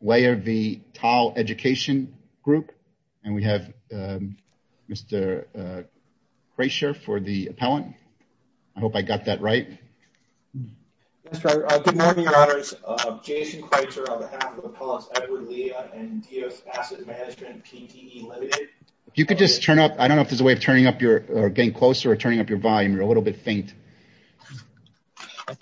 Weyer v. TAL Education Group Jason Kreutzer, on behalf of Appellants Edward Lea and Dios Asset Management, PTE Ltd. Jason Kreutzer, on behalf of Appellants Edward Lea and Dios Asset Management, PTE Ltd. Jason Kreutzer, on behalf of Appellants Edward Lea and Dios Asset Management, PTE Ltd. Jason Kreutzer, on behalf of Appellants Edward Lea and Dios Asset Management, PTE Ltd. Incidentally,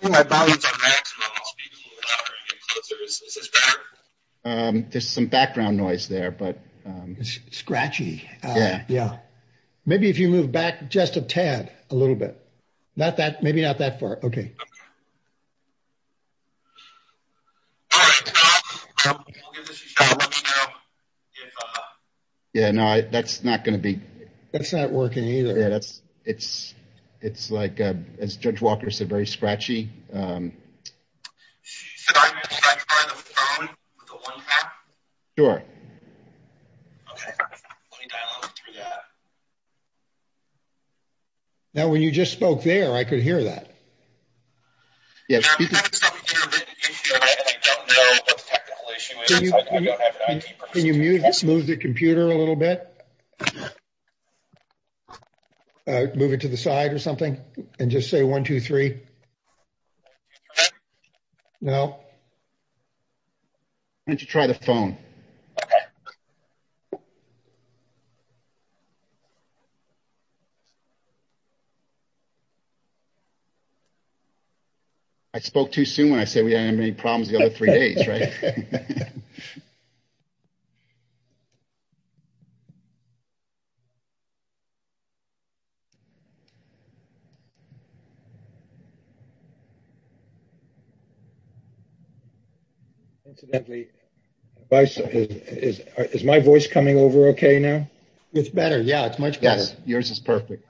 is my voice coming over okay now? It's better. Yeah, it's much better. Yes, yours is perfect.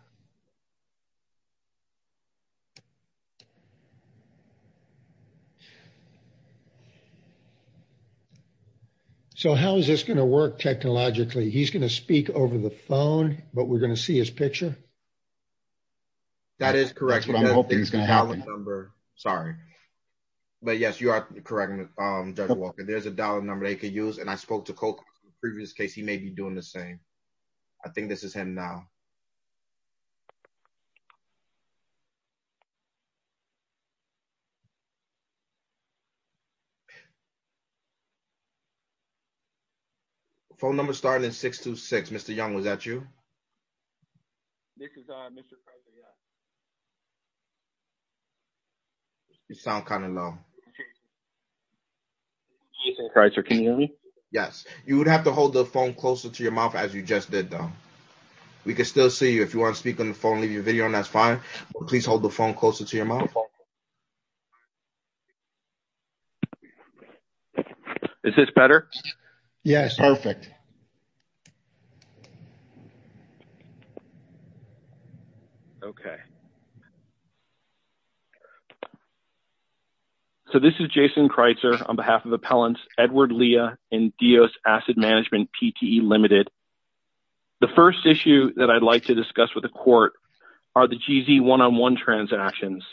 So how is this going to work technologically? He's going to speak over the phone, but we're going to see his picture? That is correct. Sorry. But yes, you are correct, Judge Walker, there's a dial-up number they can use, and I spoke to Coke in the previous case, he may be doing the same. I think this is him now. Phone number started at 626, Mr. Young, was that you? This is Mr. Kreutzer, yeah. You sound kind of low. Jason Kreutzer, can you hear me? Yes. You would have to hold the phone closer to your mouth as you just did, though. We can still see you. If you want to speak on the phone, leave your video on, that's fine, but please hold the phone closer to your mouth. Is this better? Yes. Perfect. Okay. So this is Jason Kreutzer on behalf of Appellants Edward Lea and Dios Asset Management, PTE Limited. The first issue that I'd like to discuss with the court are the GZ one-on-one transactions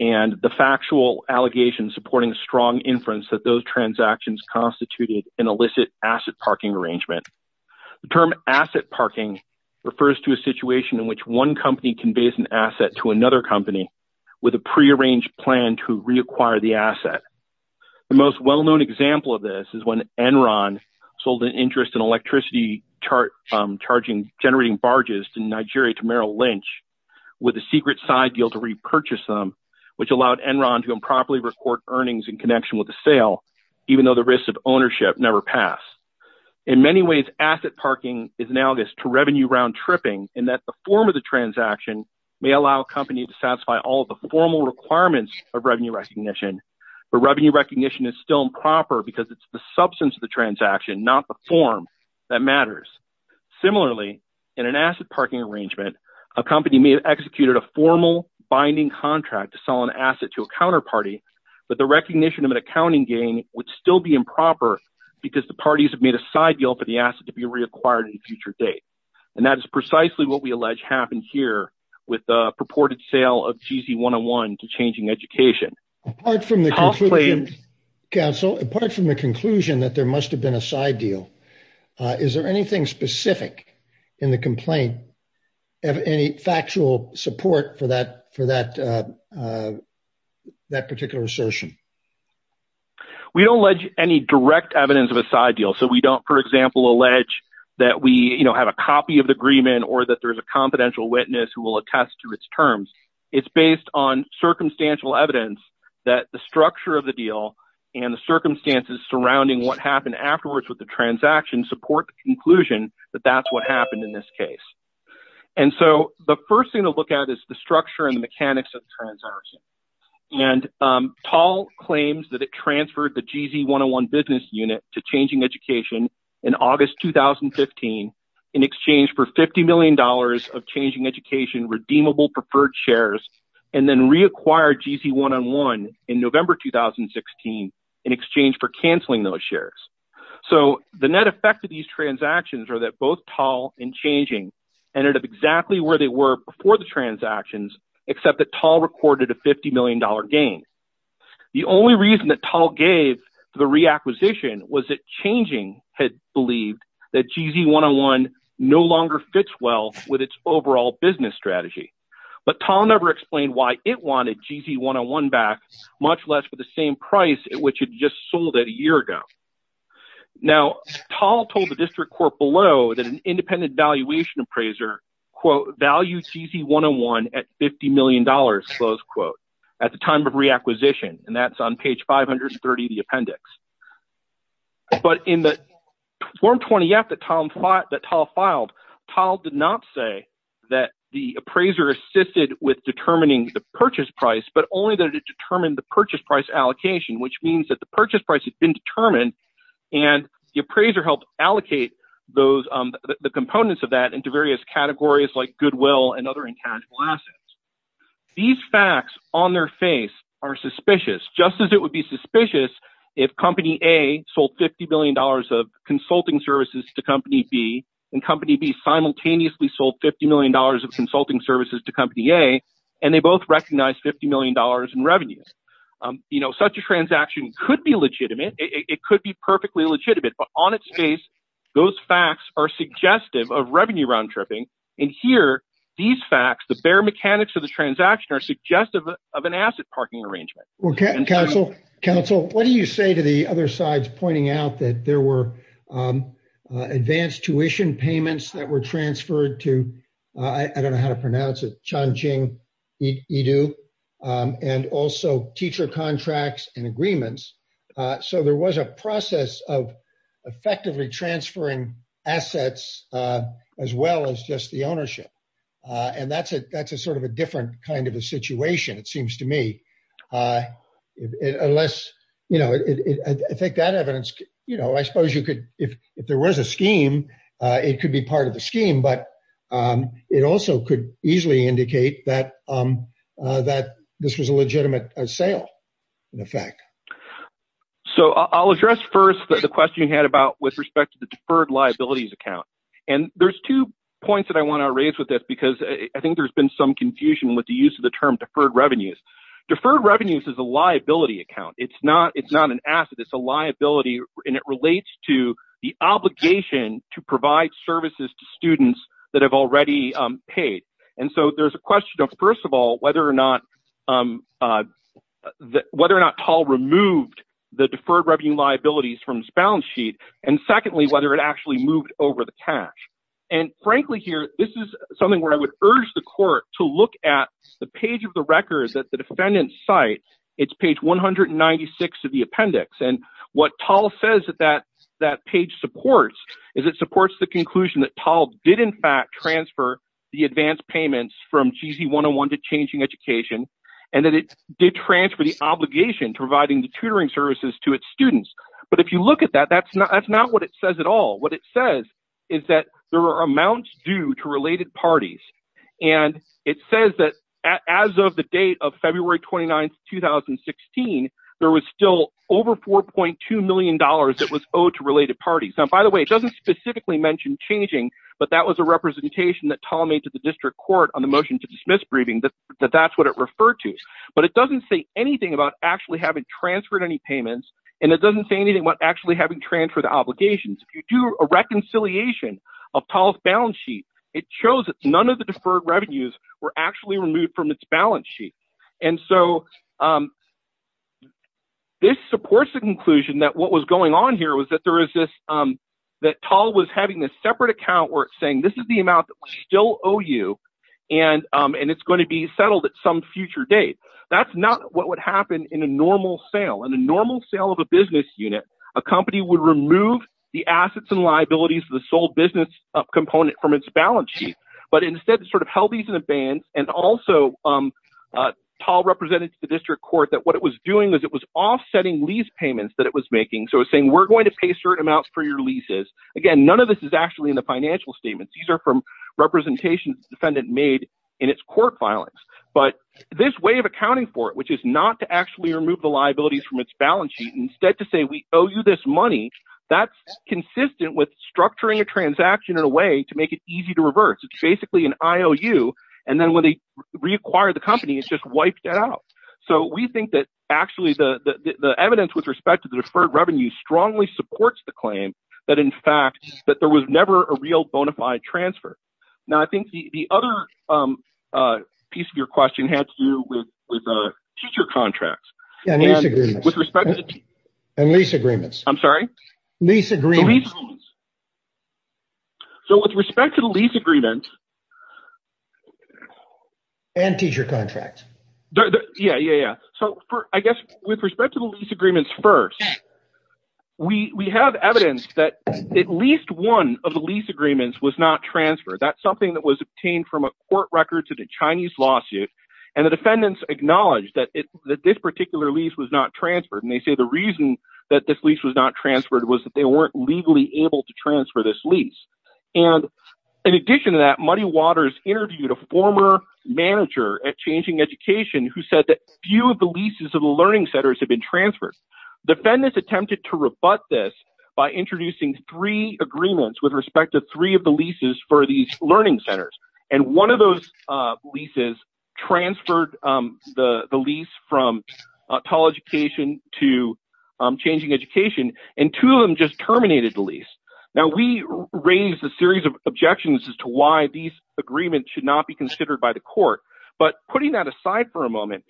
and the factual allegations supporting strong inference that those transactions constituted an illicit asset parking arrangement. The term asset parking refers to a situation in which one company conveys an asset to another company with a prearranged plan to reacquire the asset. The most well-known example of this is when Enron sold an interest in electricity charging generating barges in Nigeria to Merrill Lynch with a secret side deal to repurchase them, which allowed Enron to improperly record earnings in connection with the sale, even though the risk of ownership never passed. In many ways, asset parking is analogous to revenue round tripping in that the form of the transaction may allow a company to satisfy all of the formal requirements of revenue recognition, but revenue recognition is still improper because it's the substance of the transaction, not the form that matters. Similarly, in an asset parking arrangement, a company may have executed a formal binding contract to sell an asset to a counterparty, but the recognition of an accounting gain would still be improper because the parties have made a side deal for the asset to be reacquired at a future date. And that is precisely what we allege happened here with the purported sale of GZ one-on-one to changing education. Apart from the conclusion, counsel, apart from the conclusion that there must have been a side deal, is there anything specific in the complaint, any factual support for that particular assertion? We don't allege any direct evidence of a side deal. So we don't, for example, allege that we have a copy of the agreement or that there's a confidential witness who will attest to its terms. It's based on circumstantial evidence that the structure of the deal and the circumstances surrounding what happened afterwards with the transaction support the conclusion that that's what happened in this case. And so the first thing to look at is the structure and the mechanics of the transaction. And Paul claims that it transferred the GZ one-on-one business unit to changing education in August, 2015, in exchange for $50 million of changing education, redeemable preferred shares, and then reacquired GZ one-on-one in November, 2016, in exchange for canceling those shares. So the net effect of these transactions are that both tall and changing ended up exactly where they were before the transactions, except that tall recorded a $50 million gain. The only reason that tall gave the reacquisition was it changing had believed that GZ one-on-one no longer fits well with its overall business strategy. But tall never explained why it wanted GZ one-on-one back, much less for the same price at which it just sold it a year ago. Now, tall told the district court below that an independent valuation appraiser, quote, value GZ one-on-one at $50 million, close quote, at the time of reacquisition. And that's on page 530 of the appendix. But in the form 20F that tall filed, tall did not say that the appraiser assisted with determining the purchase price, but only that it determined the purchase price allocation, which means that the purchase price had been determined, and the appraiser helped allocate the components of that into various categories like goodwill and other intangible assets. These facts on their face are suspicious, just as it would be suspicious if company A sold $50 million of consulting services to company B, and company B simultaneously sold $50 million of consulting services to company A, and they both recognized $50 million in revenue. Such a transaction could be legitimate. It could be perfectly legitimate. But on its face, those facts are suggestive of revenue round-tripping. And here, these facts, the bare mechanics of the transaction are suggestive of an asset parking arrangement. Council, what do you say to the other sides pointing out that there were advanced tuition payments that were transferred to, I don't know how to pronounce it, Chongqing Edu, and also teacher contracts and agreements. So there was a process of effectively transferring assets as well as just the ownership. And that's a sort of a different kind of a situation, it seems to me. Unless, you know, I think that evidence, you know, I suppose you could, if there was a scheme, it could be part of the scheme, but it also could easily indicate that this was a legitimate sale, in effect. So I'll address first the question you had about with respect to the deferred liabilities account. And there's two points that I want to raise with this because I think there's been some confusion with the use of the term deferred revenues. Deferred revenues is a liability account. It's not an asset, it's a liability, and it relates to the obligation to provide services to students that have already paid. And so there's a question of, first of all, whether or not Tal removed the deferred revenue liabilities from his balance sheet. And secondly, whether it actually moved over the cash. And frankly here, this is something where I would urge the court to look at the page of the records at the defendant's site. It's page 196 of the appendix. And what Tal says that that page supports is it supports the conclusion that Tal did in fact transfer the advance payments from GZ 101 to Changing Education and that it did transfer the obligation to providing the tutoring services to its students. But if you look at that, that's not what it says at all. What it says is that there are amounts due to related parties. And it says that as of the date of February 29, 2016, there was still over $4.2 million that was owed to related parties. Now, by the way, it doesn't specifically mention Changing, but that was a representation that Tal made to the district court on the motion to dismiss briefing that that's what it referred to. But it doesn't say anything about actually having transferred any payments, and it doesn't say anything about actually having transferred the obligations. If you do a reconciliation of Tal's balance sheet, it shows that none of the deferred revenues were actually removed from its balance sheet. And so this supports the conclusion that what was going on here was that Tal was having this separate account where it's saying this is the amount that we still owe you, and it's going to be settled at some future date. That's not what would happen in a normal sale. of a business unit, a company would remove the assets and liabilities of the sole business component from its balance sheet, but instead sort of held these in a band. And also Tal represented to the district court that what it was doing was it was offsetting lease payments that it was making. So it's saying we're going to pay certain amounts for your leases. Again, none of this is actually in the financial statements. These are from representations the defendant made in its court filings. But this way of accounting for it, which is not to actually remove the liabilities from its balance sheet, instead to say we owe you this money, that's consistent with structuring a transaction in a way to make it easy to reverse. It's basically an IOU, and then when they reacquire the company, it's just wiped out. So we think that actually the evidence with respect to the deferred revenue strongly supports the claim that in fact that there was never a real bona fide transfer. Now, I think the other piece of your question had to do with future contracts. And lease agreements. And lease agreements. I'm sorry? Lease agreements. So with respect to the lease agreement. And teacher contracts. Yeah, yeah, yeah. So I guess with respect to the lease agreements first, we have evidence that at least one of the lease agreements was not transferred. That's something that was obtained from a court record to the Chinese lawsuit. And the defendants acknowledged that this particular lease was not transferred. And they say the reason that this lease was not transferred was that they weren't legally able to transfer this lease. And in addition to that, Muddy Waters interviewed a former manager at Changing Education who said that few of the leases of the learning centers have been transferred. Defendants attempted to rebut this by introducing three agreements with respect to three of the leases for these learning centers. And one of those leases transferred the lease from Tall Education to Changing Education. And two of them just terminated the lease. Now, we raised a series of objections as to why these agreements should not be considered by the court. But putting that aside for a moment,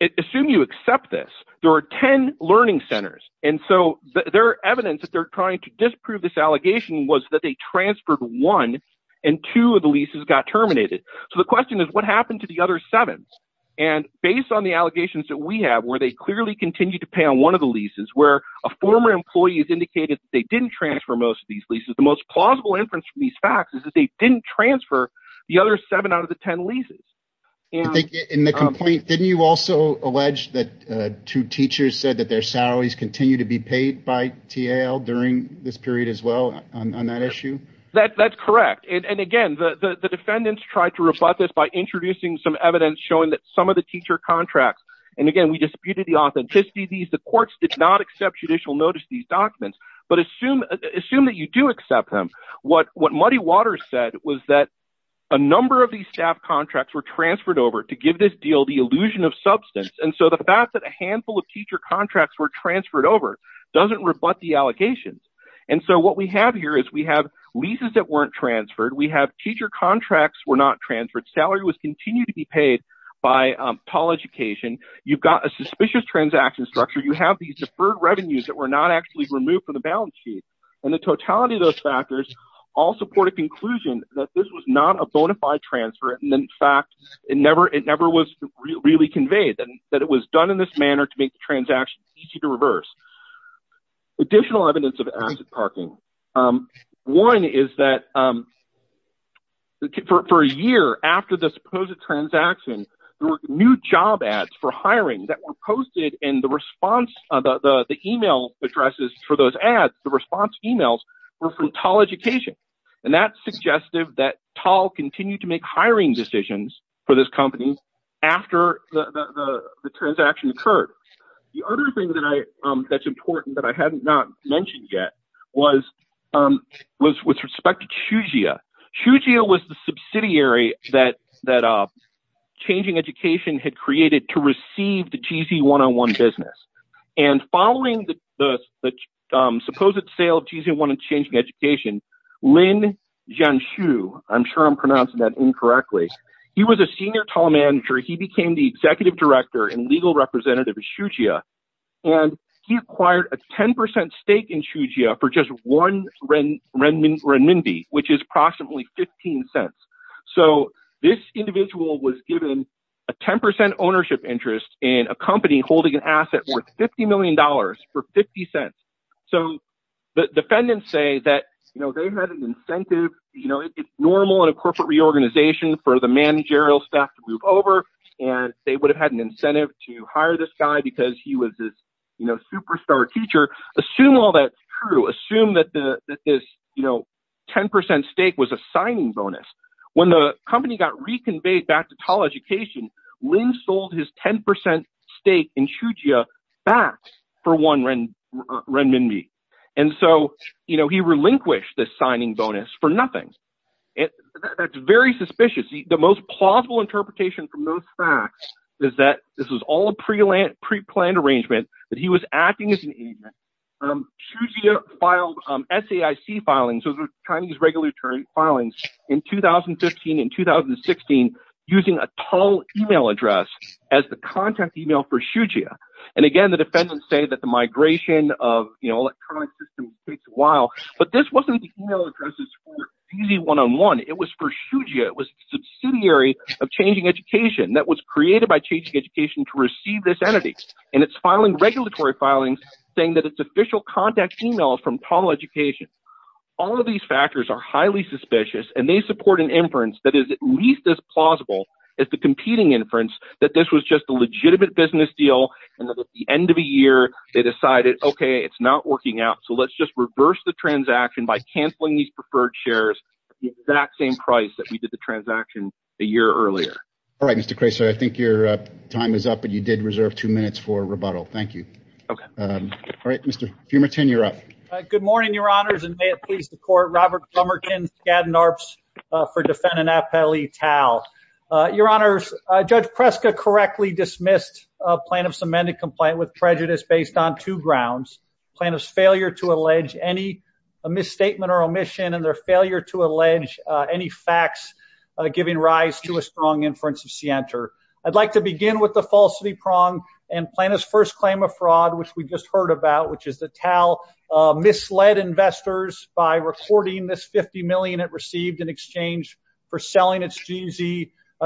assume you accept this. There are 10 learning centers. And so there are evidence that they're trying to disprove this allegation was that they got terminated. So the question is, what happened to the other seven? And based on the allegations that we have, where they clearly continue to pay on one of the leases, where a former employee has indicated that they didn't transfer most of these leases, the most plausible inference from these facts is that they didn't transfer the other seven out of the 10 leases. I think in the complaint, didn't you also allege that two teachers said that their salaries continue to be paid by TAL during this period as well on that issue? That's correct. And again, the defendants tried to rebut this by introducing some evidence showing that some of the teacher contracts. And again, we disputed the authenticity of these. The courts did not accept judicial notice of these documents. But assume that you do accept them. What Muddy Waters said was that a number of these staff contracts were transferred over to give this deal the illusion of substance. And so the fact that a handful of teacher contracts were transferred over doesn't rebut the allegations. And so what we have here is we have leases that weren't transferred. We have teacher contracts were not transferred. Salary was continued to be paid by TAL Education. You've got a suspicious transaction structure. You have these deferred revenues that were not actually removed from the balance sheet. And the totality of those factors all support a conclusion that this was not a bona fide transfer. And in fact, it never was really conveyed that it was done in this manner to make the transaction easy to reverse. Additional evidence of asset parking. One is that for a year after the supposed transaction, there were new job ads for hiring that were posted. And the response, the email addresses for those ads, the response emails were from TAL Education. And that's suggestive that TAL continued to make hiring decisions for this company after the transaction occurred. The other thing that I that's important that I had not mentioned yet was was with respect to Shugia. Shugia was the subsidiary that that Changing Education had created to receive the GZ101 business. And following the supposed sale of GZ101 and Changing Education, Lin Jiangxu, I'm sure I'm pronouncing that incorrectly. He was a senior TAL manager. He became the executive director and legal representative of Shugia, and he acquired a 10 percent stake in Shugia for just one renminbi, which is approximately 15 cents. So this individual was given a 10 percent ownership interest in a company holding an asset worth 50 million dollars for 50 cents. So the defendants say that they had an incentive. You know, it's normal in a corporate reorganization for the managerial staff to move over and they would have had an incentive to hire this guy because he was this superstar teacher. Assume all that's true. Assume that this 10 percent stake was a signing bonus. When the company got reconveyed back to TAL Education, Lin sold his 10 percent stake in Shugia back for one renminbi. And so, you know, he relinquished this signing bonus for nothing. That's very suspicious. The most plausible interpretation from those facts is that this was all a pre-planned arrangement, that he was acting as an agent. Shugia filed SAIC filings, those were Chinese regulatory filings, in 2015 and 2016 using a TAL email address as the contact email for Shugia. And again, the defendants say that the migration of, you know, electronic systems takes a while. But this wasn't email addresses for easy one-on-one. It was for Shugia. It was a subsidiary of Changing Education that was created by Changing Education to receive this entity. And it's filing regulatory filings saying that it's official contact emails from TAL Education. All of these factors are highly suspicious and they support an inference that is at least as plausible as the competing inference that this was just a legitimate business deal. At the end of the year, they decided, okay, it's not working out, so let's just reverse the transaction by canceling these preferred shares at the exact same price that we did the transaction a year earlier. All right, Mr. Kraser. I think your time is up, but you did reserve two minutes for rebuttal. Thank you. Okay. All right, Mr. Fumerton, you're up. Good morning, your honors, and may it please the court. Robert Plummerton, Skadden Arps for defendant Appellee TAL. Your honors, Judge Preska correctly dismissed plaintiff's amended complaint with prejudice based on two grounds, plaintiff's failure to allege any misstatement or omission and their failure to allege any facts giving rise to a strong inference of scienter. I'd like to begin with the falsity prong and plaintiff's first claim of fraud, which we just heard about, which is that TAL misled investors by reporting this $50 million it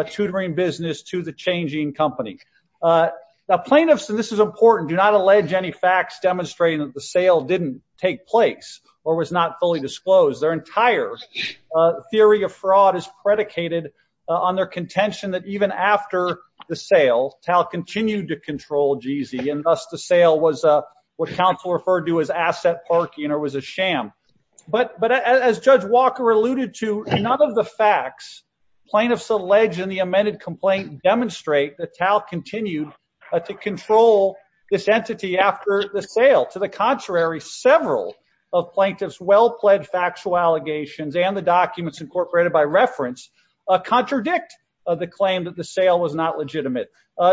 tutoring business to the changing company. Now, plaintiffs, and this is important, do not allege any facts demonstrating that the sale didn't take place or was not fully disclosed. Their entire theory of fraud is predicated on their contention that even after the sale, TAL continued to control GZ, and thus the sale was what counsel referred to as asset parking or was a sham. But as Judge Walker alluded to, none of the facts plaintiffs allege in the amended complaint demonstrate that TAL continued to control this entity after the sale. To the contrary, several of plaintiff's well-pledged factual allegations and the documents incorporated by reference contradict the claim that the sale was not legitimate.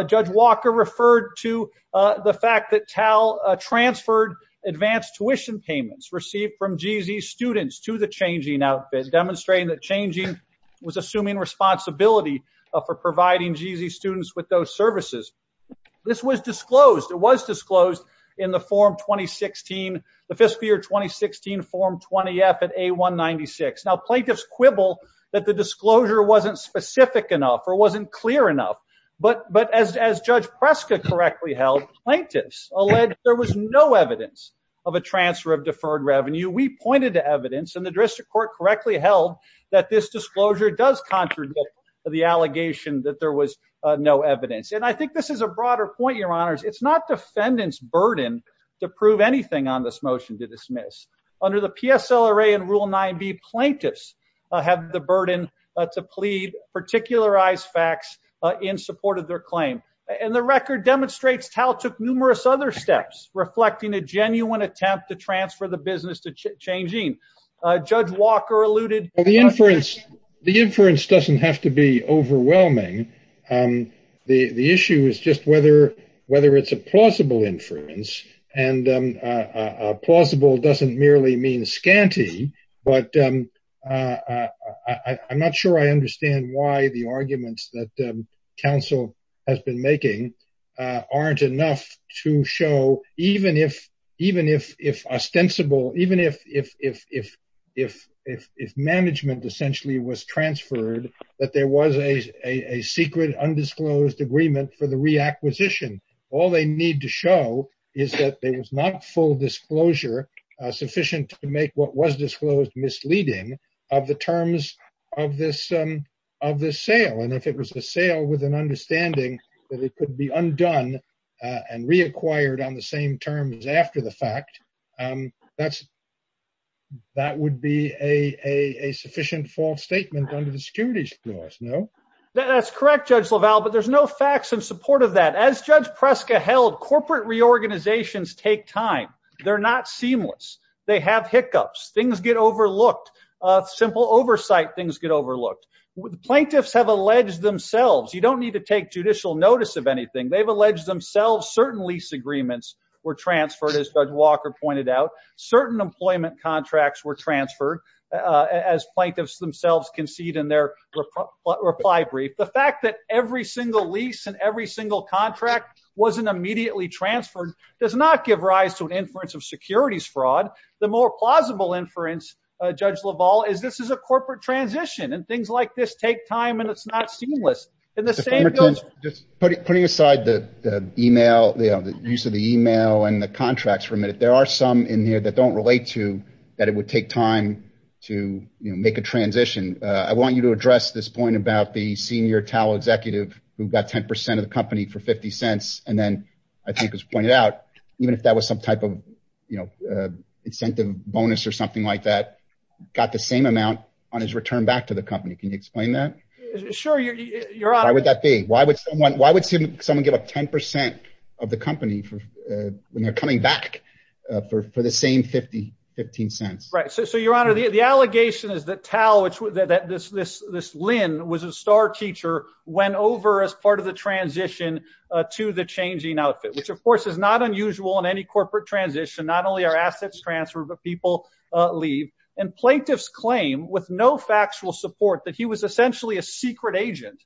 Judge Walker referred to the fact that TAL transferred advanced tuition payments received from GZ students to the changing outfit, demonstrating that changing was assuming responsibility for providing GZ students with those services. This was disclosed. It was disclosed in the form 2016, the fiscal year 2016 form 20-F at A-196. Now, plaintiffs quibble that the disclosure wasn't specific enough or wasn't clear enough, but as Judge Preska correctly held, plaintiffs allege there was no evidence of a transfer of deferred revenue. We pointed to evidence, and the jurisdiction court correctly held that this disclosure does contradict the allegation that there was no evidence. And I think this is a broader point, Your Honors. It's not defendant's burden to prove anything on this motion to dismiss. Under the PSLRA and Rule 9b, plaintiffs have the burden to plead, particularize facts in support of their claim, and the record demonstrates TAL took numerous other steps reflecting a for the business to change in. Judge Walker alluded- Well, the inference doesn't have to be overwhelming. The issue is just whether it's a plausible inference, and plausible doesn't merely mean scanty, but I'm not sure I understand why the arguments that counsel has been making aren't enough to show, even if ostensible, even if management essentially was transferred, that there was a secret, undisclosed agreement for the reacquisition. All they need to show is that there was not full disclosure sufficient to make what was disclosed misleading of the terms of this sale, and if it was a sale with an understanding that it could be undone and reacquired on the same terms after the fact, that would be a sufficient false statement under the securities laws, no? That's correct, Judge LaValle, but there's no facts in support of that. As Judge Preska held, corporate reorganizations take time. They're not seamless. They have hiccups. Things get overlooked. Simple oversight, things get overlooked. Plaintiffs have alleged themselves. You don't need to take judicial notice of anything. They've alleged themselves certain lease agreements were transferred, as Judge Walker pointed out. Certain employment contracts were transferred, as plaintiffs themselves concede in their reply brief. The fact that every single lease and every single contract wasn't immediately transferred does not give rise to an inference of securities fraud. The more plausible inference, Judge LaValle, is this is a corporate transition, and things like this take time, and it's not seamless. And the same goes- Just putting aside the email, the use of the email and the contracts for a minute, there are some in here that don't relate to that it would take time to make a transition. I want you to address this point about the senior TAL executive who got 10% of the company for $0.50, and then I think was pointed out, even if that was some type of incentive bonus or something like that, got the same amount on his return back to the company. Can you explain that? Sure, Your Honor. Why would that be? Why would someone give up 10% of the company when they're coming back for the same $0.50? Right. So, Your Honor, the allegation is that TAL, that this Lynn was a star teacher, went over as part of the transition to the changing outfit, which, of course, is not unusual in any corporate transition. Not only are assets transferred, but people leave. And plaintiffs claim, with no factual support, that he was essentially a secret agent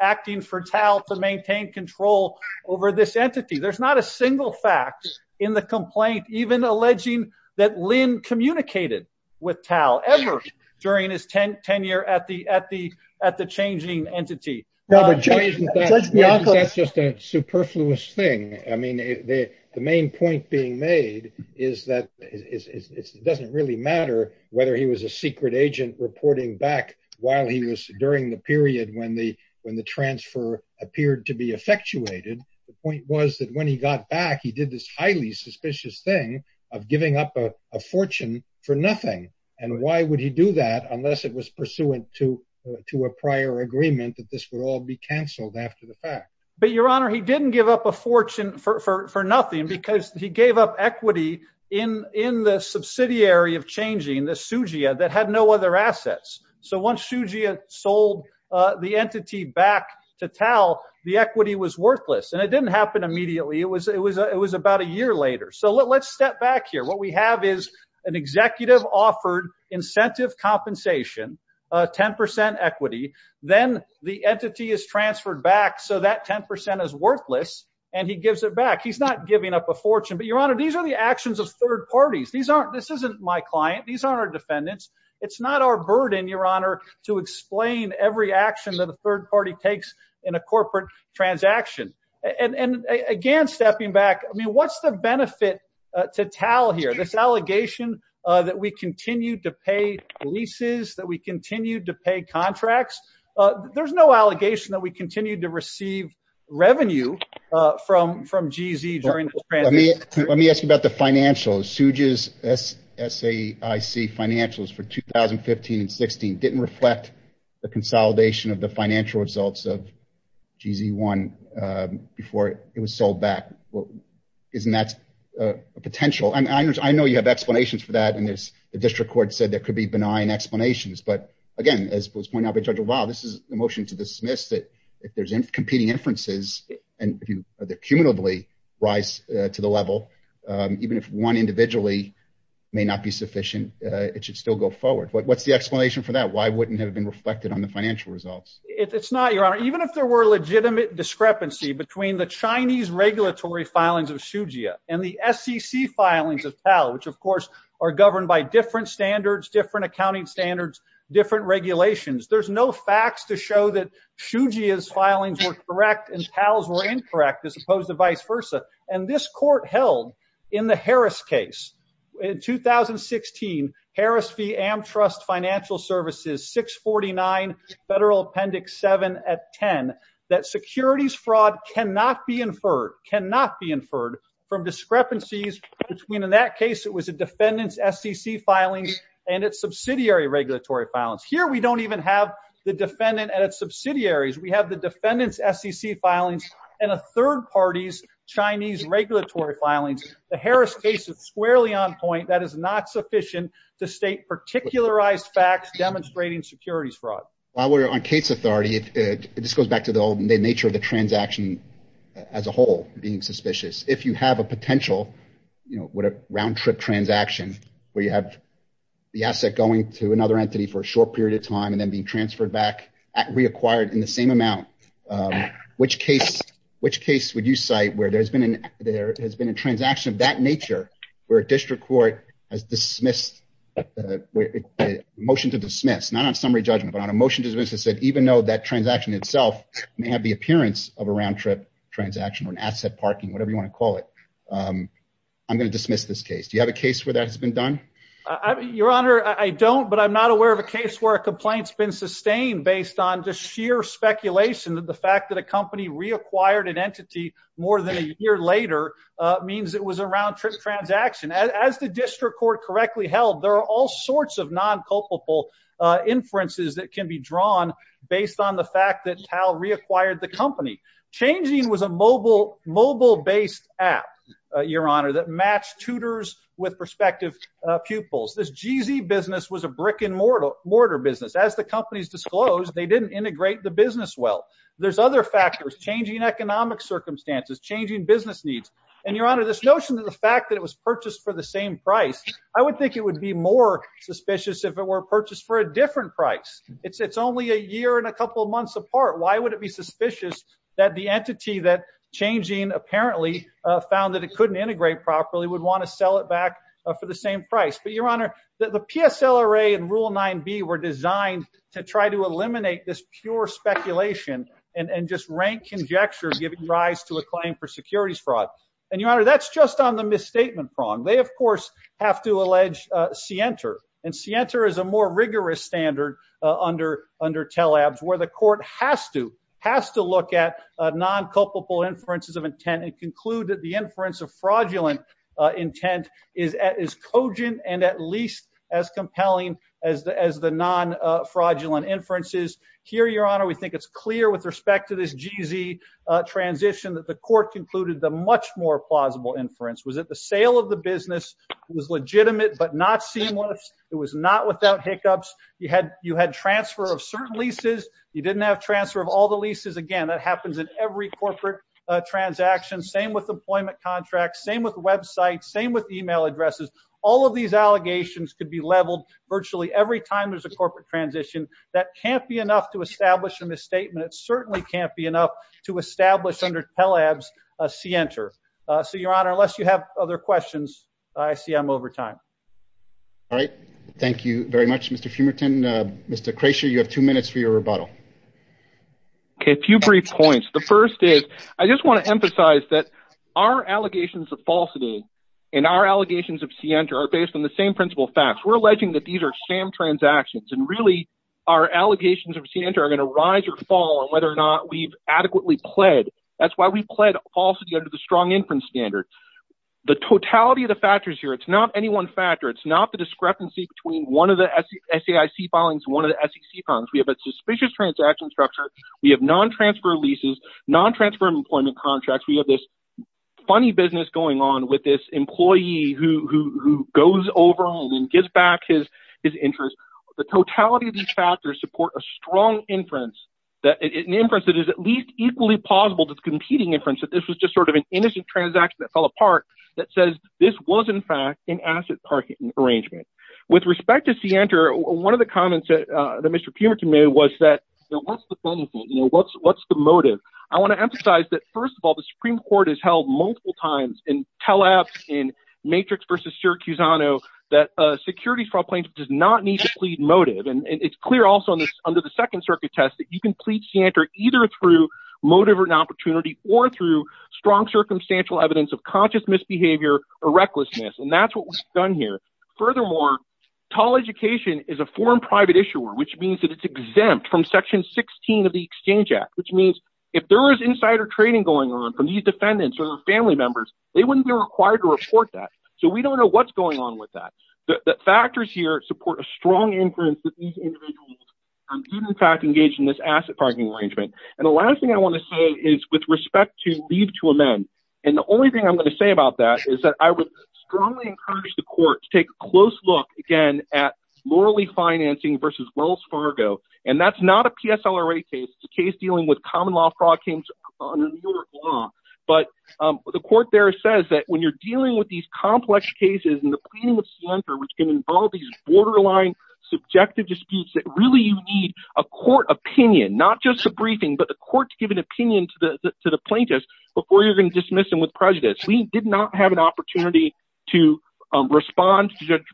acting for TAL to maintain control over this entity. There's not a single fact in the complaint, even alleging that Lynn communicated with TAL ever during his tenure at the changing entity. That's just a superfluous thing. I mean, the main point being made is that it doesn't really matter whether he was a secret agent reporting back while he was during the period when the transfer appeared to be effectuated. The point was that when he got back, he did this highly suspicious thing of giving up a fortune for nothing. And why would he do that unless it was pursuant to a prior agreement that this would all be canceled after the fact? But, Your Honor, he didn't give up a fortune for nothing because he gave up equity in the subsidiary of changing, the SUGIA, that had no other assets. So once SUGIA sold the entity back to TAL, the equity was worthless. And it didn't happen immediately. It was about a year later. So let's step back here. What we have is an executive-offered incentive compensation, 10 percent equity. Then the entity is transferred back. So that 10 percent is worthless. And he gives it back. He's not giving up a fortune. But, Your Honor, these are the actions of third parties. These aren't, this isn't my client. These aren't our defendants. It's not our burden, Your Honor, to explain every action that a third party takes in a corporate transaction. And again, stepping back, I mean, what's the benefit to TAL here? This allegation that we continue to pay leases, that we continue to pay contracts, there's no allegation that we continue to receive revenue from GZ during this transaction. Let me ask you about the financials. SUGIA's SAIC financials for 2015 and 2016 didn't reflect the consolidation of the financial results of GZ1 before it was sold back. Isn't that a potential? I know you have explanations for that. And the district court said there could be benign explanations. But again, as was pointed out by Judge LaValle, this is a motion to dismiss that if there's competing inferences and if you cumulatively rise to the level, even if one individually may not be sufficient, it should still go forward. What's the explanation for that? Why wouldn't it have been reflected on the financial results? It's not, Your Honor. Even if there were legitimate discrepancy between the Chinese regulatory filings of TAO, which of course are governed by different standards, different accounting standards, different regulations, there's no facts to show that SUGIA's filings were correct and TAO's were incorrect, as opposed to vice versa. And this court held in the Harris case in 2016, Harris v. Amtrust Financial Services, 649 Federal Appendix 7 at 10, that securities fraud cannot be inferred, cannot be inferred from discrepancies between, in that case, it was a defendant's SEC filings and its subsidiary regulatory filings. Here, we don't even have the defendant and its subsidiaries. We have the defendant's SEC filings and a third party's Chinese regulatory filings. The Harris case is squarely on point. That is not sufficient to state particularized facts demonstrating securities fraud. While we're on case authority, it just goes back to the old nature of the transaction as a whole, being suspicious. If you have a potential round-trip transaction where you have the asset going to another entity for a short period of time and then being transferred back, reacquired in the same amount, which case would you cite where there has been a transaction of that nature where a district court has dismissed, motion to dismiss, not on summary judgment, but on a motion to dismiss that said, even though that transaction itself may have the appearance of a round-trip transaction or an asset parking, whatever you want to call it, I'm going to dismiss this case. Do you have a case where that has been done? Your Honor, I don't, but I'm not aware of a case where a complaint's been sustained based on just sheer speculation that the fact that a company reacquired an entity more than a year later means it was a round-trip transaction. As the district court correctly held, there are all sorts of non-culpable inferences that reacquired the company. Changing was a mobile-based app, Your Honor, that matched tutors with prospective pupils. This GZ business was a brick-and-mortar business. As the companies disclosed, they didn't integrate the business well. There's other factors, changing economic circumstances, changing business needs. And Your Honor, this notion of the fact that it was purchased for the same price, I would think it would be more suspicious if it were purchased for a different price. It's only a year and a couple of months apart. Why would it be suspicious that the entity that changing apparently found that it couldn't integrate properly would want to sell it back for the same price? But Your Honor, the PSLRA and Rule 9b were designed to try to eliminate this pure speculation and just rank conjecture, giving rise to a claim for securities fraud. And Your Honor, that's just on the misstatement prong. They, of course, have to allege Sienter. And Sienter is a more rigorous standard under TELABS, where the court has to look at non-culpable inferences of intent and conclude that the inference of fraudulent intent is cogent and at least as compelling as the non-fraudulent inferences. Here, Your Honor, we think it's clear with respect to this GZ transition that the court concluded the much more plausible inference was that the sale of the business was legitimate but not seamless. It was not without hiccups. You had transfer of certain leases. You didn't have transfer of all the leases. Again, that happens in every corporate transaction. Same with employment contracts. Same with websites. Same with email addresses. All of these allegations could be leveled virtually every time there's a corporate transition. That can't be enough to establish a misstatement. It certainly can't be enough to establish under TELABS a Sienter. So, Your Honor, unless you have other questions, I see I'm over time. All right. Thank you very much, Mr. Fumerton. Mr. Kreischer, you have two minutes for your rebuttal. Okay, a few brief points. The first is I just want to emphasize that our allegations of falsity and our allegations of Sienter are based on the same principal facts. We're alleging that these are sham transactions and really our allegations of Sienter are going to rise or fall on whether or not we've adequately pled. That's why we pled falsity under the strong inference standard. The totality of the factors here, it's not any one factor. It's not the discrepancy between one of the SAIC filings and one of the SEC filings. We have a suspicious transaction structure. We have non-transfer leases, non-transfer employment contracts. We have this funny business going on with this employee who goes over and gives back his interest. The totality of these factors support a strong inference, an inference that is at least equally plausible to the competing inference that this was just sort of an innocent transaction that fell apart that says this was, in fact, an asset parking arrangement. With respect to Sienter, one of the comments that Mr. Pumich made was that what's the motive? I want to emphasize that, first of all, the Supreme Court has held multiple times in tell-abs in Matrix v. Sir Cusano that securities fraud plaintiff does not need to plead motive. It's clear also under the Second Circuit test that you can plead Sienter either through motive or an opportunity or through strong circumstantial evidence of conscious misbehavior or recklessness, and that's what we've done here. Furthermore, Tall Education is a foreign private issuer, which means that it's exempt from Section 16 of the Exchange Act, which means if there was insider trading going on from these defendants or their family members, they wouldn't be required to report that, so we don't know what's going on with that. Factors here support a strong inference that these individuals did, in fact, engage in this asset parking arrangement. And the last thing I want to say is with respect to leave to amend, and the only thing I'm going to say about that is that I would strongly encourage the court to take a close look, again, at Loralee Financing v. Wells Fargo, and that's not a PSLRA case. It's a case dealing with common law fraud claims under New York law, but the court there says that when you're dealing with these complex cases and the pleading with Sienter, which can involve these borderline subjective disputes, that really you need a court opinion, not just a briefing, but the court to give an opinion to the plaintiffs before you're going to dismiss them with prejudice. We did not have an opportunity to respond to Judge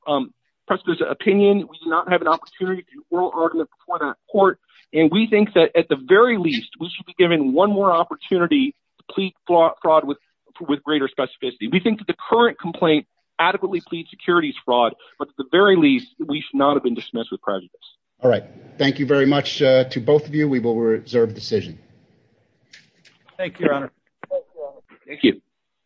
Preston's opinion. We did not have an opportunity to do oral argument before the court, and we think that at the very least, we should be given one more opportunity to plead fraud with greater specificity. We think that the current complaint adequately pleads securities fraud, but at the very least, we should not have been dismissed with prejudice. All right. Thank you very much to both of you. We will reserve decision. Thank you, Your Honor. Thank you.